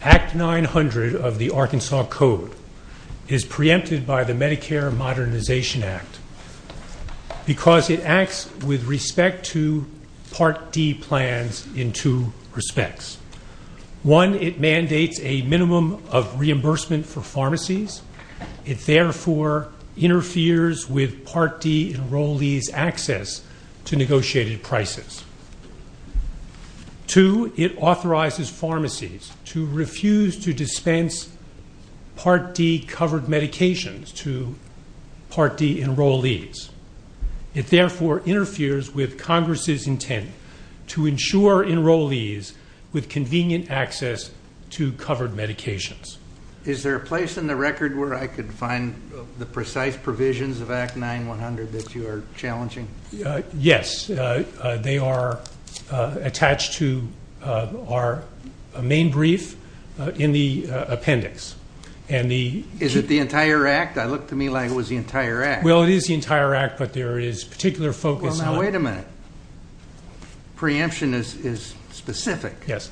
Act 900 of the Arkansas Code is preempted by the Medicare Modernization Act because it acts with respect to Part D plans in two respects. One, it mandates a minimum of reimbursement for pharmacies. It therefore interferes with Part D enrollees' access to negotiated prices. Two, it authorizes pharmacies to refuse to dispense Part D covered medications to Part D enrollees. It therefore interferes with Congress' intent to ensure enrollees with convenient access to covered medications. Is there a place in the record where I could find the precise provisions of Act 900 that you are challenging? Yes. They are attached to our main brief in the appendix. Is it the entire Act? It looked to me like it was the entire Act. Well, it is the entire Act, but there is particular focus on... Wait a minute. Preemption is specific. Yes.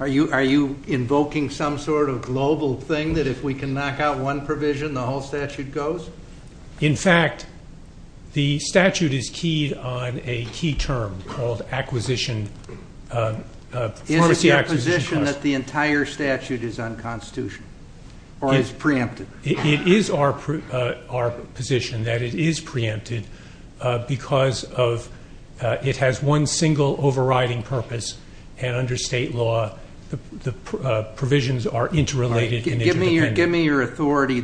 Are you invoking some sort of global thing that if we can knock out one provision, the whole statute goes? In fact, the statute is keyed on a key term called pharmacy acquisition costs. Is it your position that the entire statute is unconstitutional or is preempted? It is our position that it is preempted because it has one single overriding purpose, and under state law, the provisions are interrelated and interdependent. Give me your authority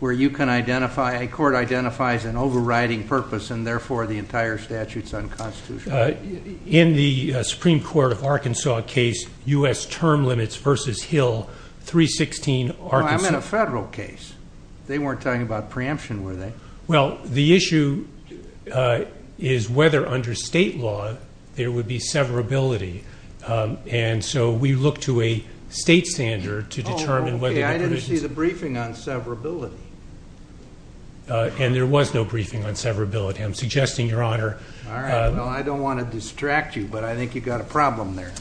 where you can identify, a court identifies an overriding purpose, and therefore the entire statute is unconstitutional. In the Supreme Court of Arkansas case, U.S. Term Limits v. Hill, 316 Arkansas... I'm in a federal case. They weren't talking about preemption, were they? Well, the issue is whether under state law there would be severability. And so we look to a state standard to determine whether the provisions... Oh, okay. I didn't see the briefing on severability. And there was no briefing on severability. I'm suggesting, Your Honor... All right. Well, I don't want to distract you, but I think you've got a problem there.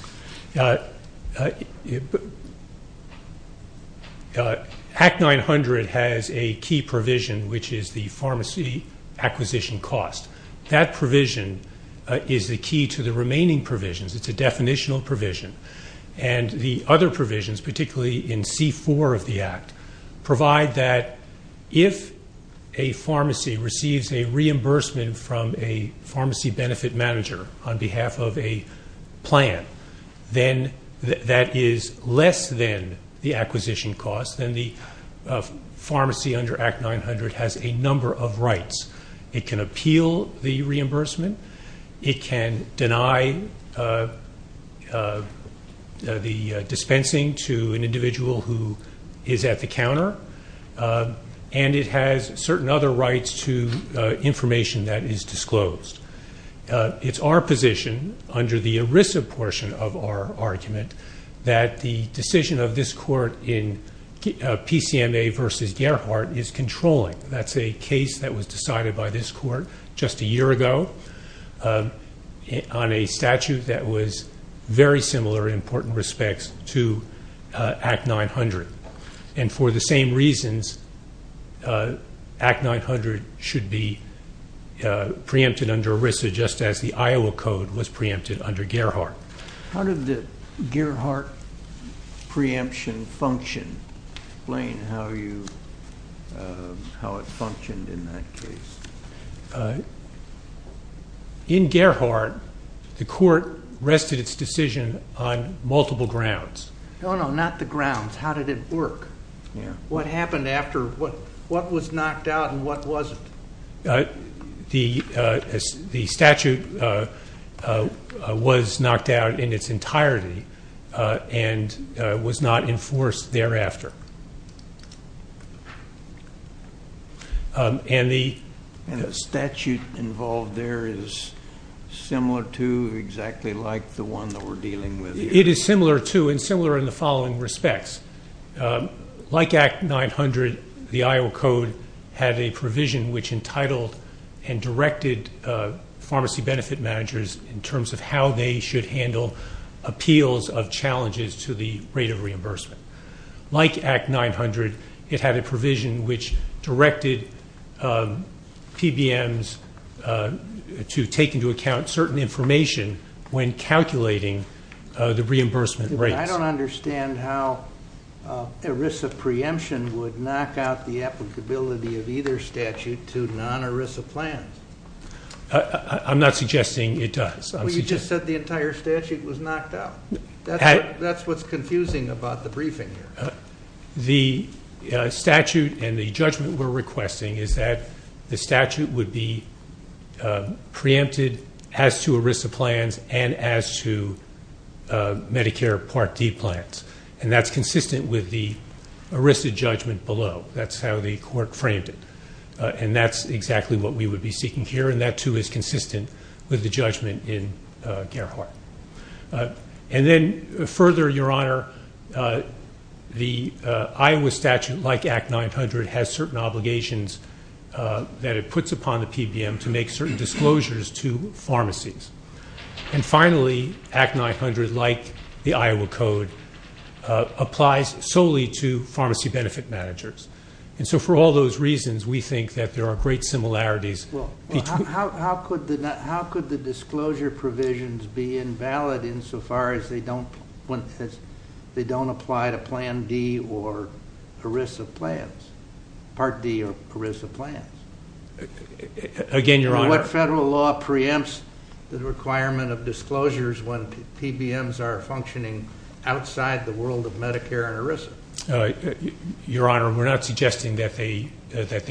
HAC 900 has a key provision, which is the pharmacy acquisition cost. That provision is the key to the remaining provisions. It's a definitional provision. And the other provisions, particularly in C-4 of the Act, provide that if a pharmacy receives a reimbursement from a pharmacy benefit manager on behalf of a plan, then that is less than the acquisition cost, then the pharmacy under Act 900 has a number of rights. It can appeal the reimbursement. It can deny the dispensing to an individual who is at the counter. And it has certain other rights to information that is disclosed. It's our position, under the ERISA portion of our argument, that the decision of this court in PCMA v. Gerhardt is controlling. That's a case that was decided by this court just a year ago on a statute that was very similar in important respects to Act 900. And for the same reasons, Act 900 should be preempted under ERISA, just as the Iowa Code was preempted under Gerhardt. How did the Gerhardt preemption function? Explain how it functioned in that case. In Gerhardt, the court rested its decision on multiple grounds. No, no, not the grounds. How did it work? What happened after? What was knocked out and what wasn't? The statute was knocked out in its entirety and was not enforced thereafter. And the statute involved there is similar to exactly like the one that we're dealing with here? It is similar to and similar in the following respects. Like Act 900, the Iowa Code had a provision which entitled and directed pharmacy benefit managers in terms of how they should handle appeals of challenges to the rate of reimbursement. Like Act 900, it had a provision which directed PBMs to take into account certain information when calculating the reimbursement rates. I don't understand how ERISA preemption would knock out the applicability of either statute to non-ERISA plans. I'm not suggesting it does. You just said the entire statute was knocked out. That's what's confusing about the briefing here. The statute and the judgment we're requesting is that the statute would be preempted as to ERISA plans and as to Medicare Part D plans. And that's consistent with the ERISA judgment below. That's how the court framed it. And that's exactly what we would be seeking here. And that, too, is consistent with the judgment in Gerhardt. And then further, Your Honor, the Iowa statute, like Act 900, has certain obligations that it puts upon the PBM to make certain disclosures to pharmacies. And finally, Act 900, like the Iowa Code, applies solely to pharmacy benefit managers. And so for all those reasons, we think that there are great similarities. Well, how could the disclosure provisions be invalid insofar as they don't apply to Plan D or ERISA plans? Part D or ERISA plans? Again, Your Honor. What federal law preempts the requirement of disclosures when PBMs are functioning outside the world of Medicare and ERISA? Your Honor, we're not suggesting that they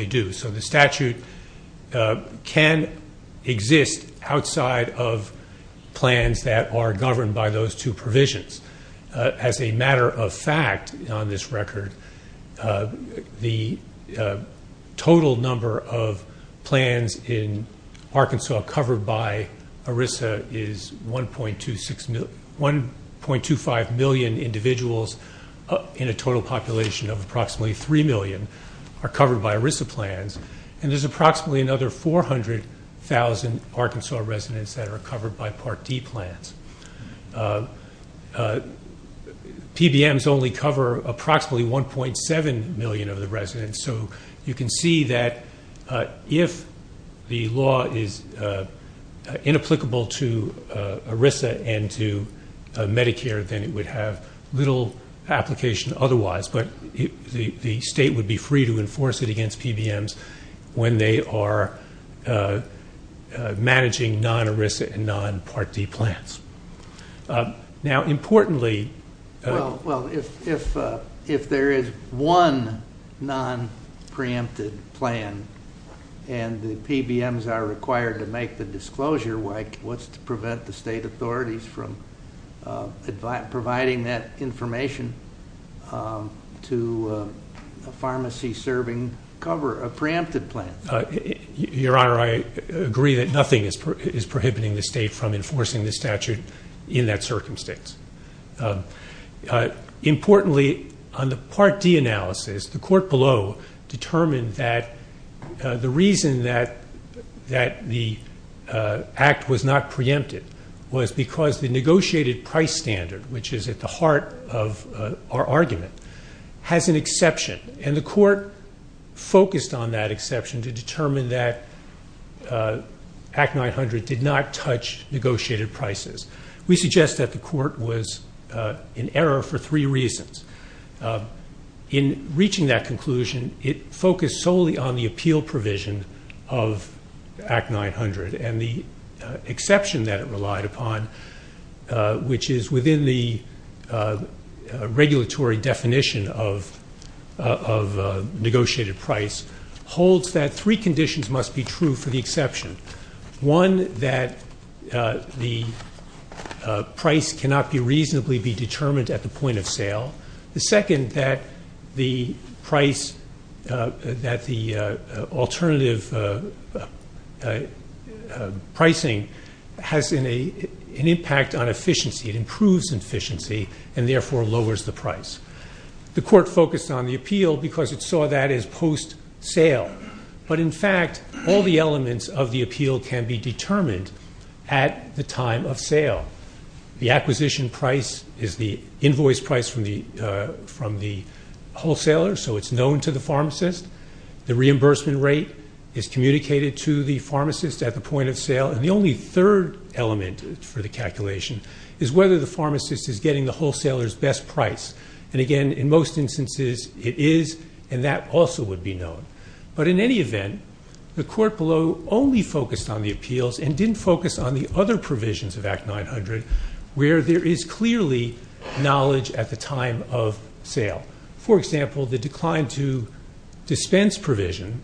do. So the statute can exist outside of plans that are governed by those two provisions. As a matter of fact, on this record, the total number of plans in Arkansas covered by ERISA is 1.25 million individuals in a total population of approximately 3 million are covered by ERISA plans. And there's approximately another 400,000 Arkansas residents that are covered by Part D plans. PBMs only cover approximately 1.7 million of the residents, so you can see that if the law is inapplicable to ERISA and to Medicare, then it would have little application otherwise. But the state would be free to enforce it against PBMs when they are managing non-ERISA and non-Part D plans. Now, importantly... Well, if there is one non-preempted plan and the PBMs are required to make the disclosure, what's to prevent the state authorities from providing that information to a pharmacy serving a preempted plan? Your Honor, I agree that nothing is prohibiting the state from enforcing the statute in that circumstance. Importantly, on the Part D analysis, the court below determined that the reason that the act was not preempted was because the negotiated price standard, which is at the heart of our argument, has an exception. And the court focused on that exception to determine that Act 900 did not touch negotiated prices. We suggest that the court was in error for three reasons. In reaching that conclusion, it focused solely on the appeal provision of Act 900 and the exception that it relied upon, which is within the regulatory definition of negotiated price, holds that three conditions must be true for the exception. One, that the price cannot be reasonably be determined at the point of sale. The second, that the price, that the alternative pricing has an impact on efficiency. It improves efficiency and therefore lowers the price. The court focused on the appeal because it saw that as post-sale. But in fact, all the elements of the appeal can be determined at the time of sale. The acquisition price is the invoice price from the wholesaler, so it's known to the pharmacist. The reimbursement rate is communicated to the pharmacist at the point of sale. And the only third element for the calculation is whether the pharmacist is getting the wholesaler's best price. And again, in most instances, it is and that also would be known. But in any event, the court below only focused on the appeals and didn't focus on the other provisions of Act 900 where there is clearly knowledge at the time of sale. For example, the decline to dispense provision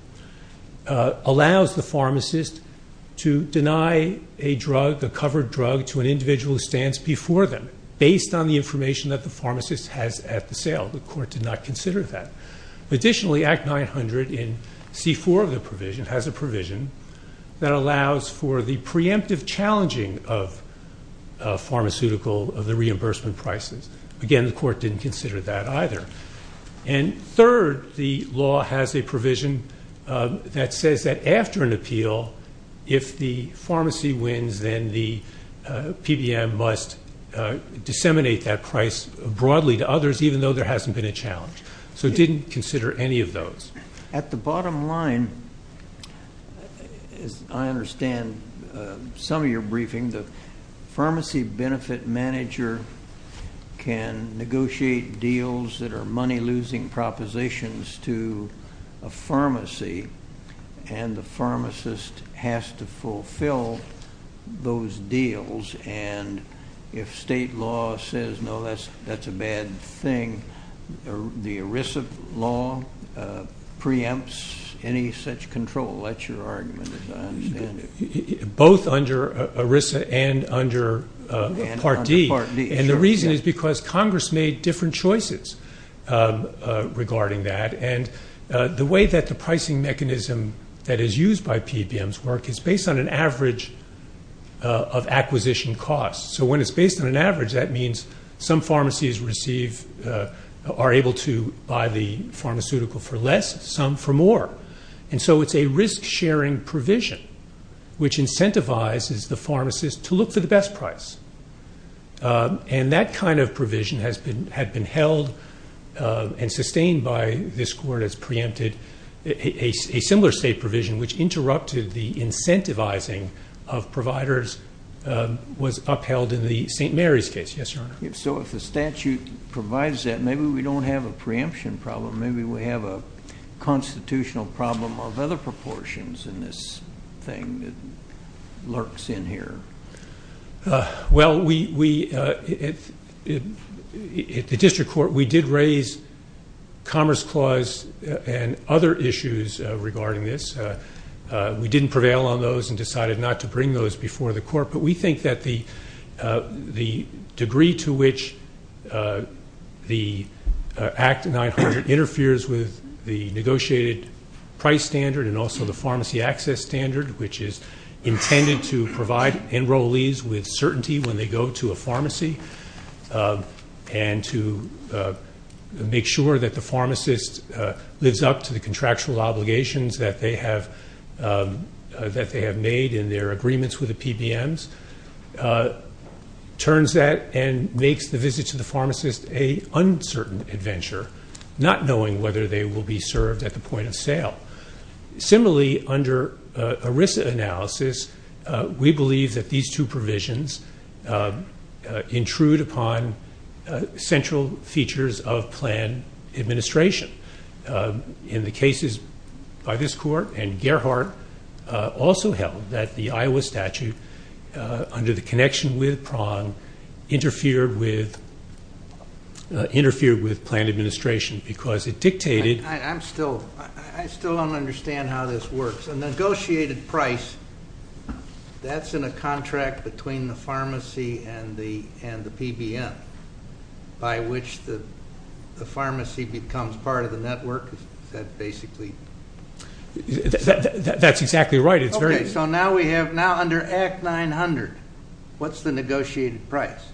allows the pharmacist to deny a drug, a covered drug, to an individual who stands before them based on the information that the pharmacist has at the sale. The court did not consider that. Additionally, Act 900 in C4 of the provision has a provision that allows for the preemptive challenging of pharmaceutical, of the reimbursement prices. Again, the court didn't consider that either. And third, the law has a provision that says that after an appeal, if the pharmacy wins, then the PBM must disseminate that price broadly to others even though there hasn't been a challenge. So it didn't consider any of those. At the bottom line, as I understand some of your briefing, the pharmacy benefit manager can negotiate deals that are money-losing propositions to a pharmacy, and the pharmacist has to fulfill those deals. And if state law says, no, that's a bad thing, the ERISA law preempts any such control. That's your argument, as I understand it. Both under ERISA and under Part D. And the reason is because Congress made different choices regarding that. And the way that the pricing mechanism that is used by PBM's work is based on an average of acquisition costs. So when it's based on an average, that means some pharmacies are able to buy the pharmaceutical for less, some for more. And so it's a risk-sharing provision which incentivizes the pharmacist to look for the best price. And that kind of provision had been held and sustained by this court as preempted. A similar state provision which interrupted the incentivizing of providers was upheld in the St. Mary's case. Yes, Your Honor. So if the statute provides that, maybe we don't have a preemption problem. Maybe we have a constitutional problem of other proportions in this thing that lurks in here. Well, we at the district court, we did raise Commerce Clause and other issues regarding this. We didn't prevail on those and decided not to bring those before the court. But we think that the degree to which the Act 900 interferes with the negotiated price standard and also the pharmacy access standard, which is intended to provide enrollees with certainty when they go to a pharmacy, and to make sure that the pharmacist lives up to the contractual obligations that they have made in their agreements with the PBMs, turns that and makes the visit to the pharmacist an uncertain adventure, not knowing whether they will be served at the point of sale. Similarly, under ERISA analysis, we believe that these two provisions intrude upon central features of plan administration. In the cases by this court and Gerhardt, also held that the Iowa statute, under the connection with Prong, interfered with plan administration because it dictated. I still don't understand how this works. A negotiated price, that's in a contract between the pharmacy and the PBM, by which the pharmacy becomes part of the network? That's exactly right. So now under Act 900, what's the negotiated price?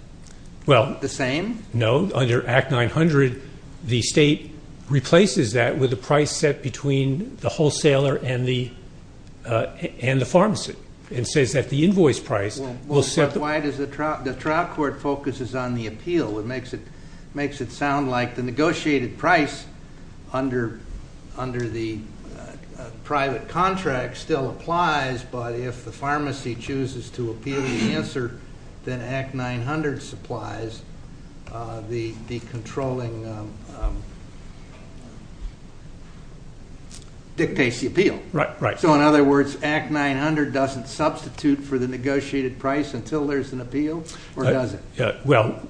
The same? No, under Act 900, the state replaces that with a price set between the wholesaler and the pharmacy. Why does the trial court focus on the appeal? It makes it sound like the negotiated price under the private contract still applies, but if the pharmacy chooses to appeal the answer, then Act 900 dictates the appeal. Right. So does it substitute for the negotiated price until there's an appeal, or does it? Well,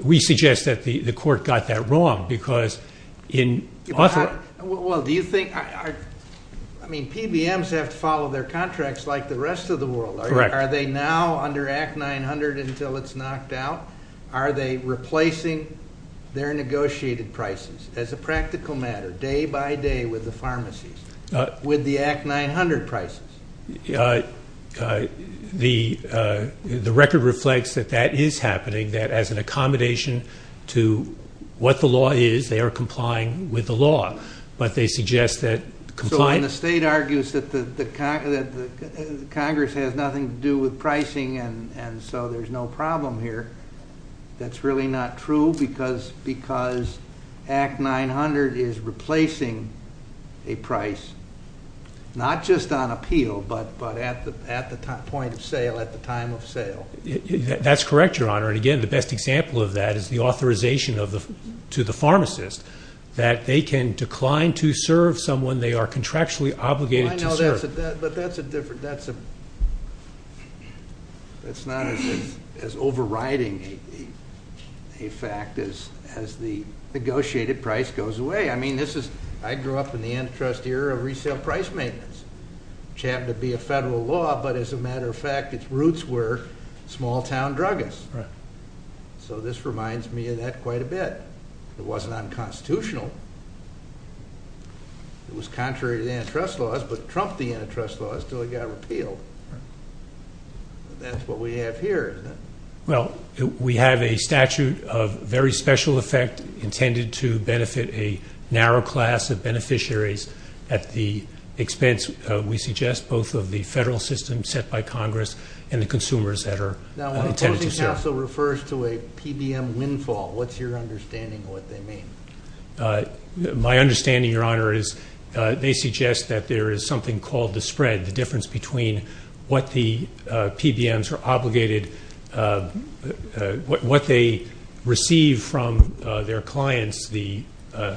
we suggest that the court got that wrong because in authorizing... Well, do you think... I mean, PBMs have to follow their contracts like the rest of the world. Correct. Are they now under Act 900 until it's knocked out? Are they replacing their negotiated prices as a practical matter, day by day with the pharmacies? With the Act 900 prices? The record reflects that that is happening, that as an accommodation to what the law is, they are complying with the law, but they suggest that... So when the state argues that Congress has nothing to do with pricing and so there's no problem here, that's really not true because Act 900 is replacing a price, not just on appeal, but at the point of sale, at the time of sale. That's correct, Your Honor, and again, the best example of that is the authorization to the pharmacist that they can decline to serve someone they are contractually obligated to serve. But that's a different... that's not as overriding a fact as the negotiated price goes away. I mean, this is... I grew up in the antitrust era of resale price maintenance, which happened to be a federal law, but as a matter of fact, its roots were small-town druggists. So this reminds me of that quite a bit. It wasn't unconstitutional. It was contrary to the antitrust laws, but trumped the antitrust laws until it got repealed. That's what we have here, isn't it? Well, we have a statute of very special effect intended to benefit a narrow class of beneficiaries at the expense, we suggest, both of the federal system set by Congress and the consumers that are intended to serve. It also refers to a PBM windfall. What's your understanding of what they mean? My understanding, Your Honor, is they suggest that there is something called the spread, the difference between what the PBMs are obligated... what they receive from their clients, the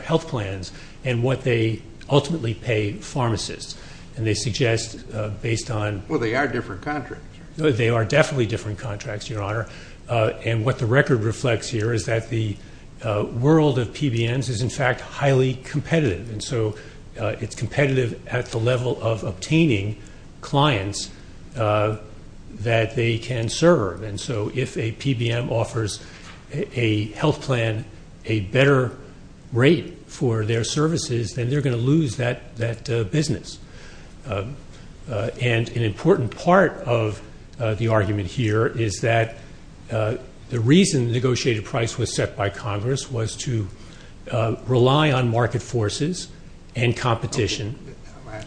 health plans, and what they ultimately pay pharmacists. And they suggest, based on... Well, they are different contracts. They are definitely different contracts, Your Honor. And what the record reflects here is that the world of PBMs is, in fact, highly competitive. And so it's competitive at the level of obtaining clients that they can serve. And so if a PBM offers a health plan a better rate for their services, then they're going to lose that business. And an important part of the argument here is that the reason the negotiated price was set by Congress was to rely on market forces and competition. I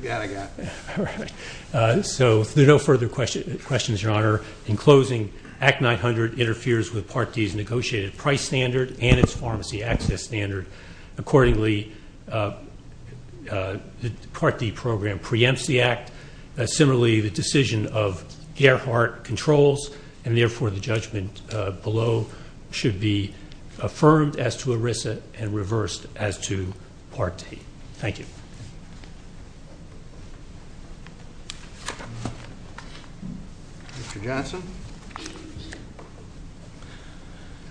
got it. I got it. All right. So there are no further questions, Your Honor. In closing, Act 900 interferes with Part D's negotiated price standard and its pharmacy access standard. Accordingly, the Part D program preempts the act. Similarly, the decision of Gerhardt controls, and therefore the judgment below should be affirmed as to ERISA and reversed as to Part D. Thank you.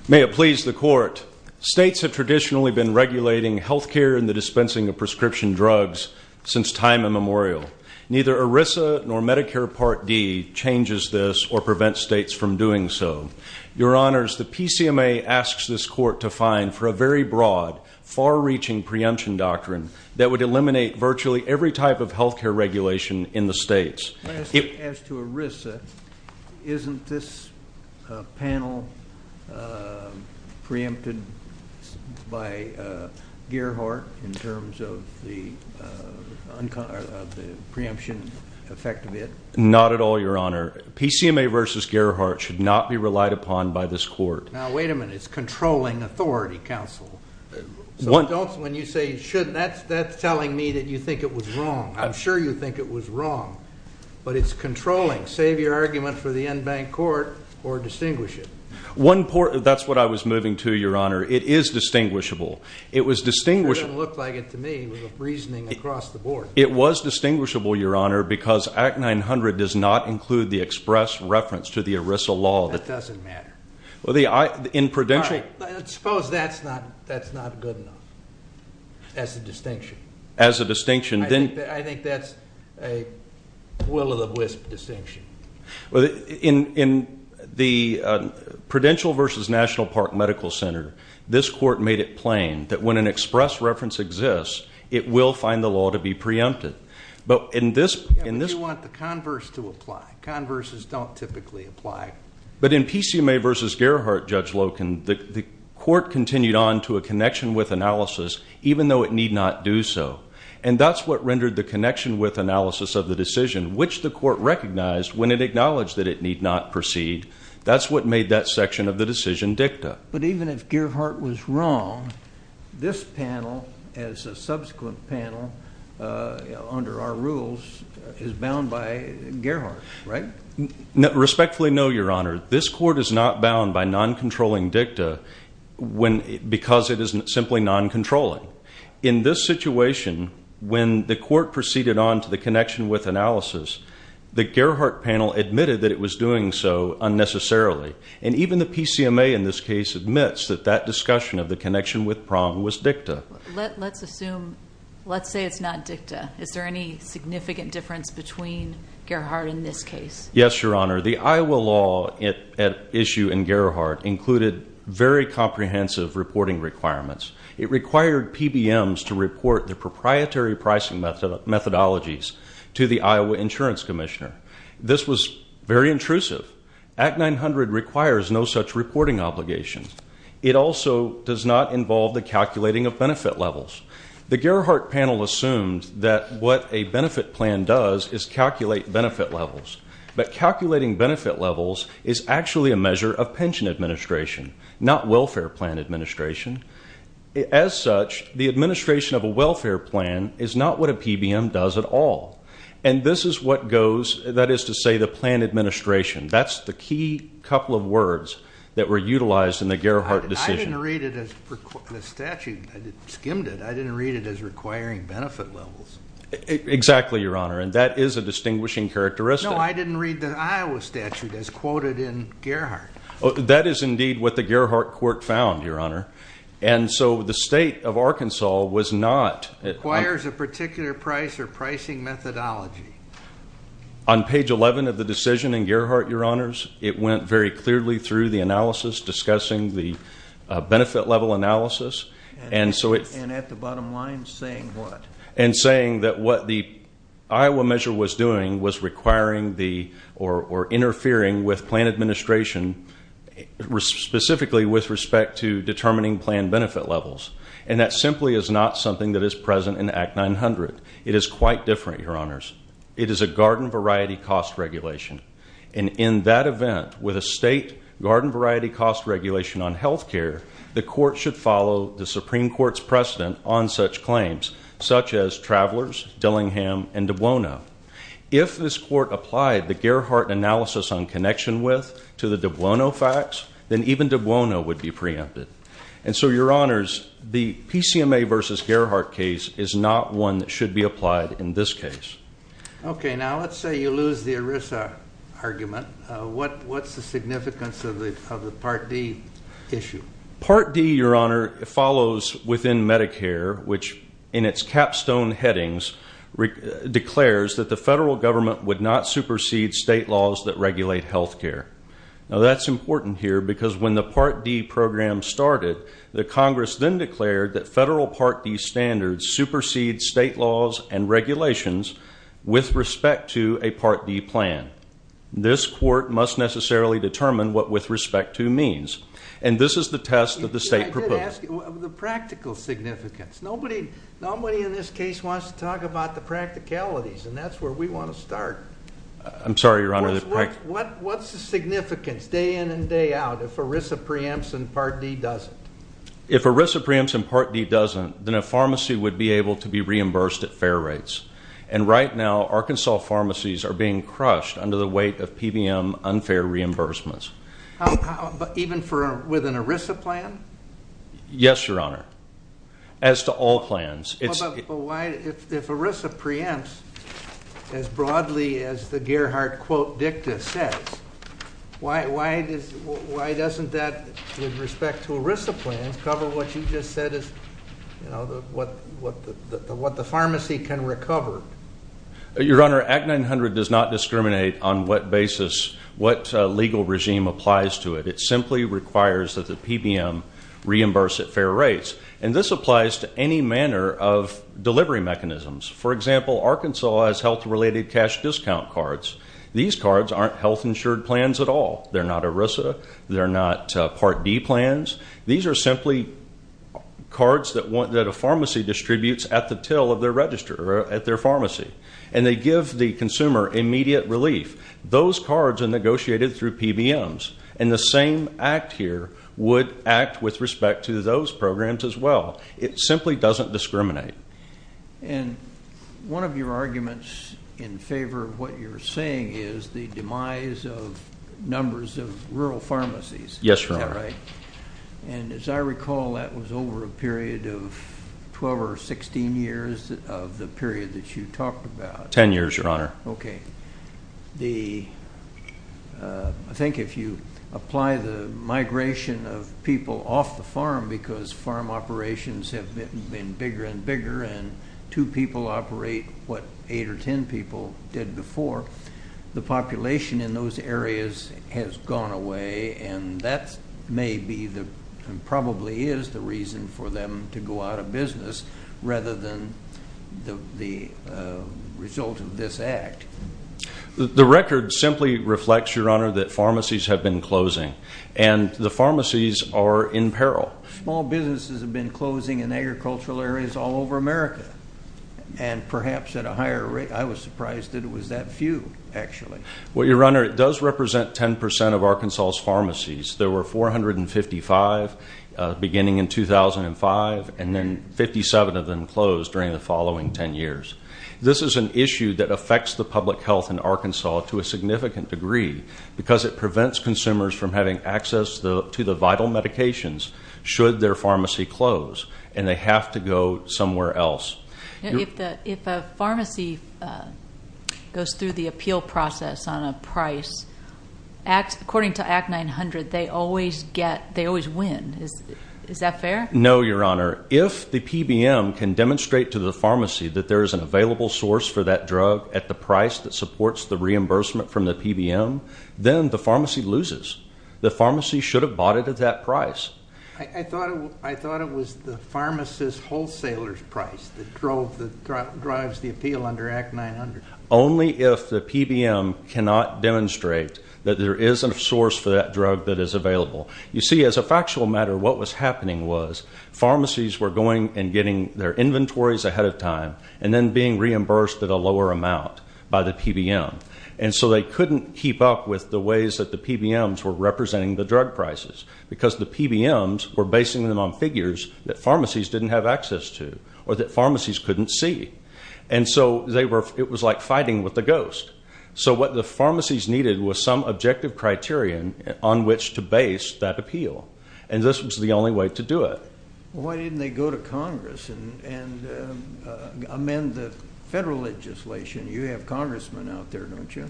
May it please the Court. States have traditionally been regulating health care and the dispensing of prescription drugs since time immemorial. Neither ERISA nor Medicare Part D changes this or prevents states from doing so. Your Honors, the PCMA asks this Court to fine for a very broad, far-reaching preemption doctrine that would eliminate virtually every type of health care regulation in the states. As to ERISA, isn't this panel preempted by Gerhardt in terms of the preemption effect of it? Not at all, Your Honor. PCMA v. Gerhardt should not be relied upon by this Court. Now, wait a minute. It's controlling authority, counsel. When you say shouldn't, that's telling me that you think it was wrong. I'm sure you think it was wrong, but it's controlling. Save your argument for the en banc court or distinguish it. That's what I was moving to, Your Honor. It is distinguishable. It doesn't look like it to me with the reasoning across the board. It was distinguishable, Your Honor, because Act 900 does not include the express reference to the ERISA law. That doesn't matter. Suppose that's not good enough as a distinction. I think that's a will-of-the-wisp distinction. In the Prudential v. National Park Medical Center, this Court made it plain that when an express reference exists, it will find the law to be preempted. But you want the converse to apply. Converses don't typically apply. But in PCMA v. Gerhardt, Judge Loken, the Court continued on to a connection with analysis, even though it need not do so. And that's what rendered the connection with analysis of the decision, which the Court recognized when it acknowledged that it need not proceed. That's what made that section of the decision dicta. But even if Gerhardt was wrong, this panel, as a subsequent panel under our rules, is bound by Gerhardt, right? Respectfully, no, Your Honor. This Court is not bound by non-controlling dicta because it is simply non-controlling. In this situation, when the Court proceeded on to the connection with analysis, the Gerhardt panel admitted that it was doing so unnecessarily. And even the PCMA in this case admits that that discussion of the connection with prong was dicta. Let's assume, let's say it's not dicta. Is there any significant difference between Gerhardt in this case? Yes, Your Honor. The Iowa law at issue in Gerhardt included very comprehensive reporting requirements. It required PBMs to report the proprietary pricing methodologies to the Iowa Insurance Commissioner. This was very intrusive. Act 900 requires no such reporting obligation. It also does not involve the calculating of benefit levels. The Gerhardt panel assumed that what a benefit plan does is calculate benefit levels. But calculating benefit levels is actually a measure of pension administration, not welfare plan administration. As such, the administration of a welfare plan is not what a PBM does at all. And this is what goes, that is to say, the plan administration. That's the key couple of words that were utilized in the Gerhardt decision. I didn't read it as the statute. I skimmed it. I didn't read it as requiring benefit levels. Exactly, Your Honor. And that is a distinguishing characteristic. No, I didn't read the Iowa statute as quoted in Gerhardt. That is indeed what the Gerhardt court found, Your Honor. And so the state of Arkansas was not. It requires a particular price or pricing methodology. On page 11 of the decision in Gerhardt, Your Honors, it went very clearly through the analysis discussing the benefit level analysis. And at the bottom line saying what? And saying that what the Iowa measure was doing was requiring the or interfering with plan administration, specifically with respect to determining plan benefit levels. And that simply is not something that is present in Act 900. It is quite different, Your Honors. It is a garden variety cost regulation. And in that event, with a state garden variety cost regulation on health care, the court should follow the Supreme Court's precedent on such claims, such as Travelers, Dillingham, and DiBuono. If this court applied the Gerhardt analysis on connection width to the DiBuono facts, then even DiBuono would be preempted. And so, Your Honors, the PCMA versus Gerhardt case is not one that should be applied in this case. Okay, now let's say you lose the ERISA argument. What's the significance of the Part D issue? Part D, Your Honor, follows within Medicare, which in its capstone headings declares that the federal government would not supersede state laws that regulate health care. Now that's important here because when the Part D program started, the Congress then declared that federal Part D standards supersede state laws and regulations with respect to a Part D plan. This court must necessarily determine what with respect to means. And this is the test that the state proposed. The practical significance. Nobody in this case wants to talk about the practicalities, and that's where we want to start. I'm sorry, Your Honor. What's the significance day in and day out if ERISA preempts and Part D doesn't? If ERISA preempts and Part D doesn't, then a pharmacy would be able to be reimbursed at fair rates. And right now Arkansas pharmacies are being crushed under the weight of PBM unfair reimbursements. Even with an ERISA plan? Yes, Your Honor. As to all plans. But if ERISA preempts as broadly as the Gerhardt quote dicta says, why doesn't that with respect to ERISA plans cover what you just said, what the pharmacy can recover? Your Honor, Act 900 does not discriminate on what basis, what legal regime applies to it. It simply requires that the PBM reimburse at fair rates. And this applies to any manner of delivery mechanisms. For example, Arkansas has health-related cash discount cards. These cards aren't health-insured plans at all. They're not ERISA. They're not Part D plans. These are simply cards that a pharmacy distributes at the till of their register or at their pharmacy. And they give the consumer immediate relief. Those cards are negotiated through PBMs. And the same act here would act with respect to those programs as well. It simply doesn't discriminate. And one of your arguments in favor of what you're saying is the demise of numbers of rural pharmacies. Yes, Your Honor. Is that right? And as I recall, that was over a period of 12 or 16 years of the period that you talked about. Ten years, Your Honor. Okay. I think if you apply the migration of people off the farm because farm operations have been bigger and bigger and two people operate what eight or ten people did before, the population in those areas has gone away. And that may be and probably is the reason for them to go out of business rather than the result of this act. The record simply reflects, Your Honor, that pharmacies have been closing. And the pharmacies are in peril. Small businesses have been closing in agricultural areas all over America. And perhaps at a higher rate. I was surprised that it was that few, actually. There were 455 beginning in 2005. And then 57 of them closed during the following ten years. This is an issue that affects the public health in Arkansas to a significant degree because it prevents consumers from having access to the vital medications should their pharmacy close. And they have to go somewhere else. If a pharmacy goes through the appeal process on a price, according to Act 900, they always win. Is that fair? No, Your Honor. If the PBM can demonstrate to the pharmacy that there is an available source for that drug at the price that supports the reimbursement from the PBM, then the pharmacy loses. The pharmacy should have bought it at that price. I thought it was the pharmacist wholesaler's price that drives the appeal under Act 900. Only if the PBM cannot demonstrate that there is a source for that drug that is available. You see, as a factual matter, what was happening was pharmacies were going and getting their inventories ahead of time and then being reimbursed at a lower amount by the PBM. And so they couldn't keep up with the ways that the PBMs were representing the drug prices because the PBMs were basing them on figures that pharmacies didn't have access to or that pharmacies couldn't see. And so it was like fighting with a ghost. So what the pharmacies needed was some objective criterion on which to base that appeal. And this was the only way to do it. Why didn't they go to Congress and amend the federal legislation? You have congressmen out there, don't you?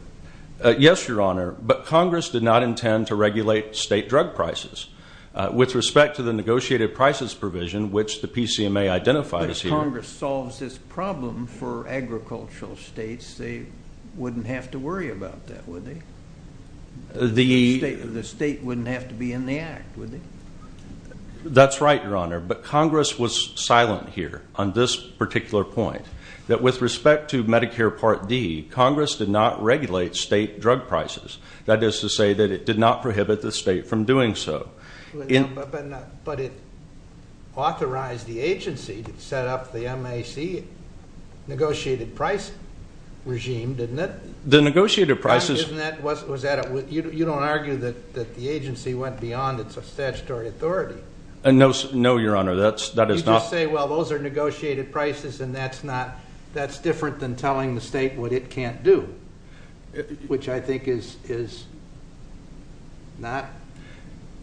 Yes, Your Honor. But Congress did not intend to regulate state drug prices. With respect to the negotiated prices provision, which the PCMA identified as Congress solves this problem for agricultural states, they wouldn't have to worry about that, would they? The state wouldn't have to be in the act, would they? That's right, Your Honor. But Congress was silent here on this particular point, that with respect to Medicare Part D, Congress did not regulate state drug prices. That is to say that it did not prohibit the state from doing so. But it authorized the agency to set up the MAC negotiated price regime, didn't it? The negotiated prices. You don't argue that the agency went beyond its statutory authority. No, Your Honor, that is not. You just say, well, those are negotiated prices, and that's different than telling the state what it can't do, which I think is not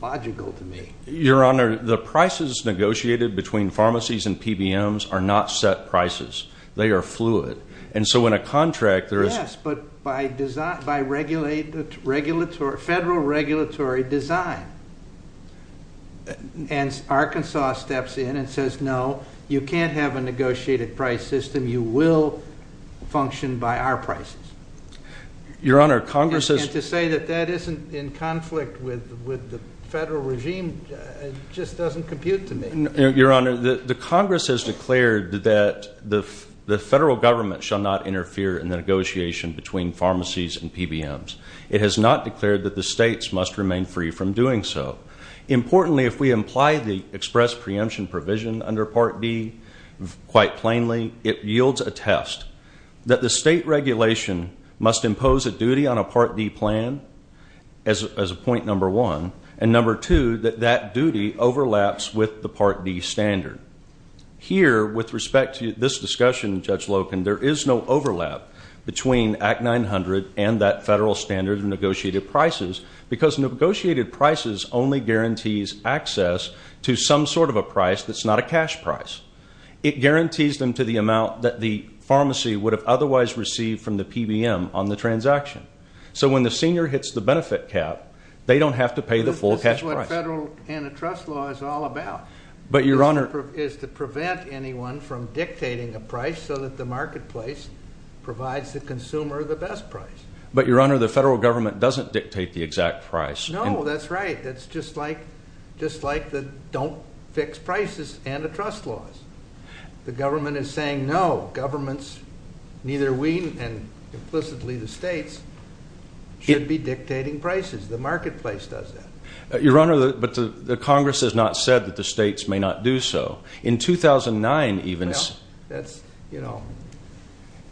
logical to me. Your Honor, the prices negotiated between pharmacies and PBMs are not set prices. They are fluid. And so in a contract, there is. Yes, but by federal regulatory design. And Arkansas steps in and says, no, you can't have a negotiated price system. You will function by our prices. Your Honor, Congress has. And to say that that isn't in conflict with the federal regime just doesn't compute to me. Your Honor, the Congress has declared that the federal government shall not interfere in the negotiation between pharmacies and PBMs. It has not declared that the states must remain free from doing so. Importantly, if we imply the express preemption provision under Part D quite plainly, it yields a test that the state regulation must impose a duty on a Part D plan as a point number one, and number two, that that duty overlaps with the Part D standard. Here, with respect to this discussion, Judge Loken, there is no overlap between Act 900 and that federal standard of negotiated prices because negotiated prices only guarantees access to some sort of a price that's not a cash price. It guarantees them to the amount that the pharmacy would have otherwise received from the PBM on the transaction. So when the senior hits the benefit cap, they don't have to pay the full cash price. This is what federal antitrust law is all about, is to prevent anyone from dictating a price so that the marketplace provides the consumer the best price. But, Your Honor, the federal government doesn't dictate the exact price. No, that's right. That's just like the don't-fix-prices antitrust laws. The government is saying, no, governments, neither we and implicitly the states, should be dictating prices. The marketplace does that. Your Honor, but the Congress has not said that the states may not do so. In 2009, even... Well, that's, you know,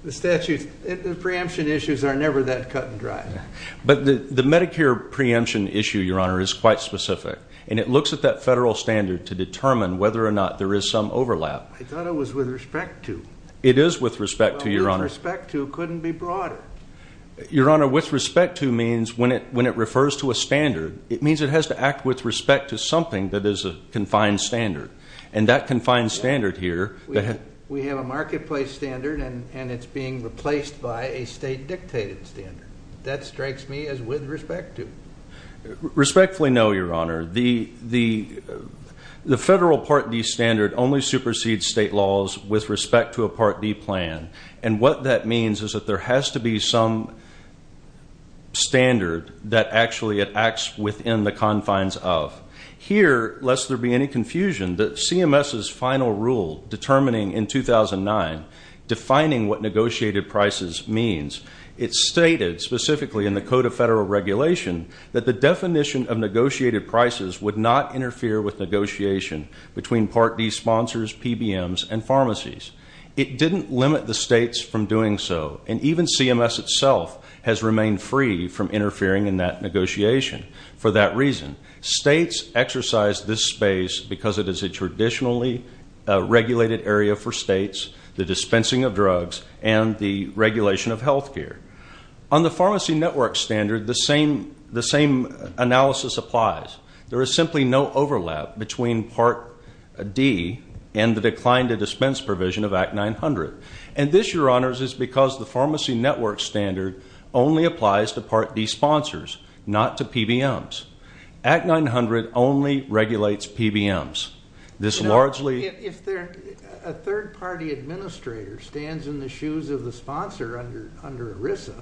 the statute, the preemption issues are never that cut and dry. But the Medicare preemption issue, Your Honor, is quite specific. And it looks at that federal standard to determine whether or not there is some overlap. I thought it was with respect to. It is with respect to, Your Honor. Well, with respect to couldn't be broader. Your Honor, with respect to means when it refers to a standard, it means it has to act with respect to something that is a confined standard. And that confined standard here... We have a marketplace standard, and it's being replaced by a state-dictated standard. That strikes me as with respect to. Respectfully, no, Your Honor. The federal Part D standard only supersedes state laws with respect to a Part D plan. And what that means is that there has to be some standard that actually it acts within the confines of. Here, lest there be any confusion, the CMS's final rule determining in 2009, defining what negotiated prices means, it stated specifically in the Code of Federal Regulation that the definition of negotiated prices would not interfere with negotiation between Part D sponsors, PBMs, and pharmacies. It didn't limit the states from doing so. And even CMS itself has remained free from interfering in that negotiation for that reason. States exercise this space because it is a traditionally regulated area for states, the dispensing of drugs, and the regulation of health care. On the pharmacy network standard, the same analysis applies. There is simply no overlap between Part D and the decline to dispense provision of Act 900. And this, Your Honors, is because the pharmacy network standard only applies to Part D sponsors, not to PBMs. Act 900 only regulates PBMs. If a third-party administrator stands in the shoes of the sponsor under ERISA,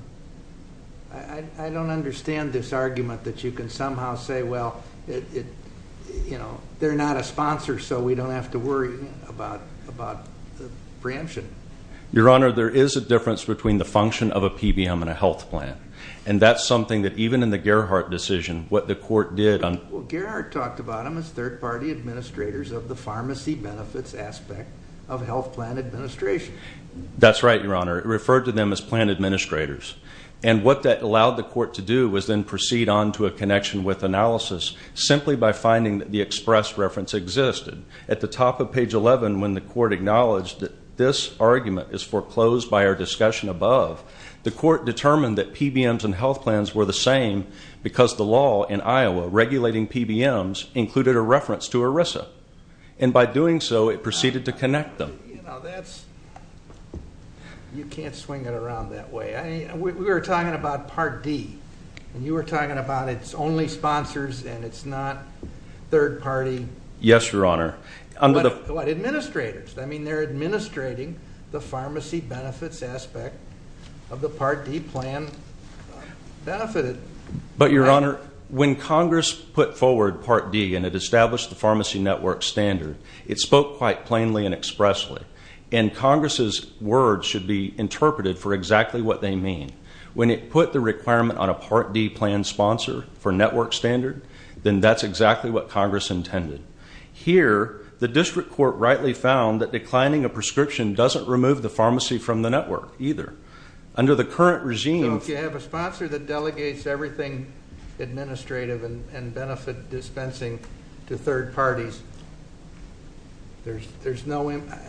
I don't understand this argument that you can somehow say, well, they're not a sponsor so we don't have to worry about the preemption. Your Honor, there is a difference between the function of a PBM and a health plan. And that's something that even in the Gerhardt decision, what the court did on of the pharmacy benefits aspect of health plan administration. That's right, Your Honor. It referred to them as plan administrators. And what that allowed the court to do was then proceed on to a connection with analysis simply by finding that the express reference existed. At the top of page 11, when the court acknowledged that this argument is foreclosed by our discussion above, the court determined that PBMs and health plans were the same because the law in Iowa regulating PBMs, included a reference to ERISA. And by doing so, it proceeded to connect them. You can't swing it around that way. We were talking about Part D. And you were talking about it's only sponsors and it's not third-party. Yes, Your Honor. Administrators. I mean, they're administrating the pharmacy benefits aspect of the Part D plan. But, Your Honor, when Congress put forward Part D and it established the pharmacy network standard, it spoke quite plainly and expressly. And Congress's words should be interpreted for exactly what they mean. When it put the requirement on a Part D plan sponsor for network standard, then that's exactly what Congress intended. Here, the district court rightly found that declining a prescription doesn't remove the pharmacy from the network either. Under the current regime. So if you have a sponsor that delegates everything administrative and benefit dispensing to third parties, there's no impact?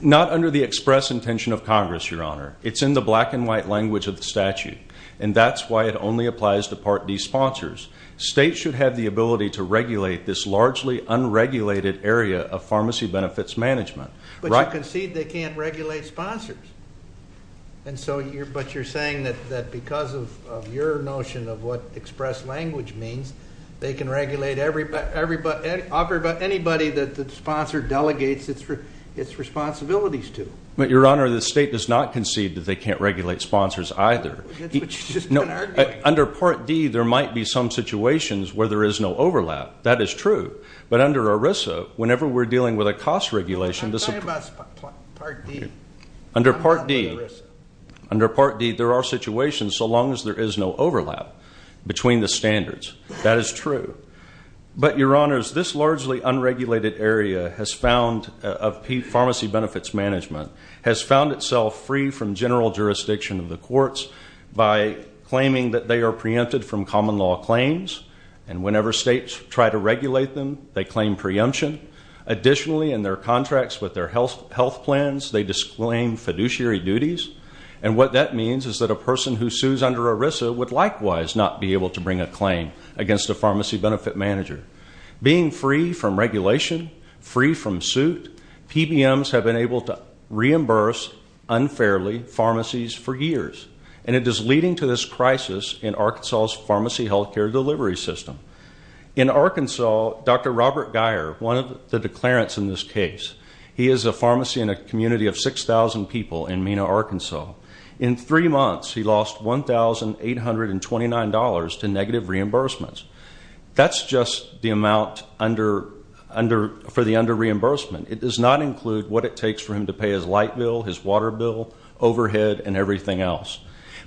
Not under the express intention of Congress, Your Honor. It's in the black and white language of the statute. And that's why it only applies to Part D sponsors. States should have the ability to regulate this largely unregulated area of pharmacy benefits management. But you concede they can't regulate sponsors. But you're saying that because of your notion of what express language means, they can regulate anybody that the sponsor delegates its responsibilities to. But, Your Honor, the state does not concede that they can't regulate sponsors either. That's what you've just been arguing. Under Part D, there might be some situations where there is no overlap. That is true. But under ERISA, whenever we're dealing with a cost regulation. I'm talking about Part D. Under Part D, there are situations so long as there is no overlap between the standards. That is true. But, Your Honors, this largely unregulated area of pharmacy benefits management has found itself free from general jurisdiction of the courts by claiming that they are preempted from common law claims. And whenever states try to regulate them, they claim preemption. Additionally, in their contracts with their health plans, they disclaim fiduciary duties. And what that means is that a person who sues under ERISA would likewise not be able to bring a claim against a pharmacy benefit manager. Being free from regulation, free from suit, PBMs have been able to reimburse unfairly pharmacies for years. And it is leading to this crisis in Arkansas' pharmacy health care delivery system. In Arkansas, Dr. Robert Geyer, one of the declarants in this case, he is a pharmacy in a community of 6,000 people in Mena, Arkansas. In three months, he lost $1,829 to negative reimbursements. That's just the amount for the under reimbursement. It does not include what it takes for him to pay his light bill, his water bill, overhead, and everything else.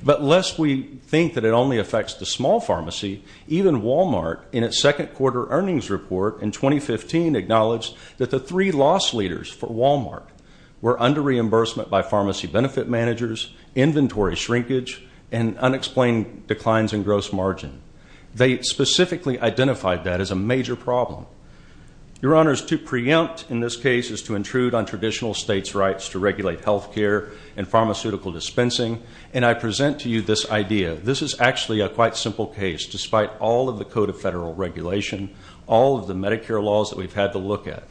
But lest we think that it only affects the small pharmacy, even Walmart, in its second quarter earnings report in 2015, acknowledged that the three loss leaders for Walmart were under reimbursement by pharmacy benefit managers, inventory shrinkage, and unexplained declines in gross margin. They specifically identified that as a major problem. Your Honors, to preempt in this case is to intrude on traditional states' rights to regulate health care and pharmaceutical dispensing. And I present to you this idea. This is actually a quite simple case, despite all of the code of federal regulation, all of the Medicare laws that we've had to look at,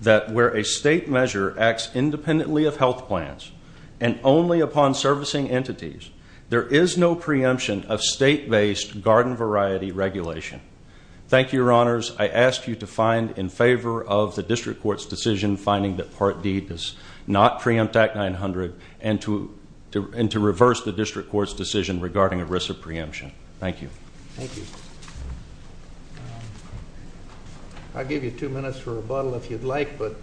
that where a state measure acts independently of health plans and only upon servicing entities, there is no preemption of state-based garden variety regulation. Thank you, Your Honors. I ask you to find in favor of the district court's decision finding that Part D does not preempt Act 900 and to reverse the district court's decision regarding a risk of preemption. Thank you. Thank you. I'll give you two minutes for rebuttal if you'd like, but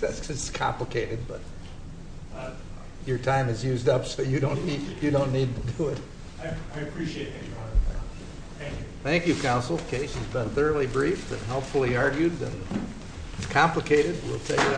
this is complicated. But your time is used up, so you don't need to do it. I appreciate that, Your Honor. Thank you. Thank you, Counsel. The case has been thoroughly briefed and helpfully argued, and it's complicated.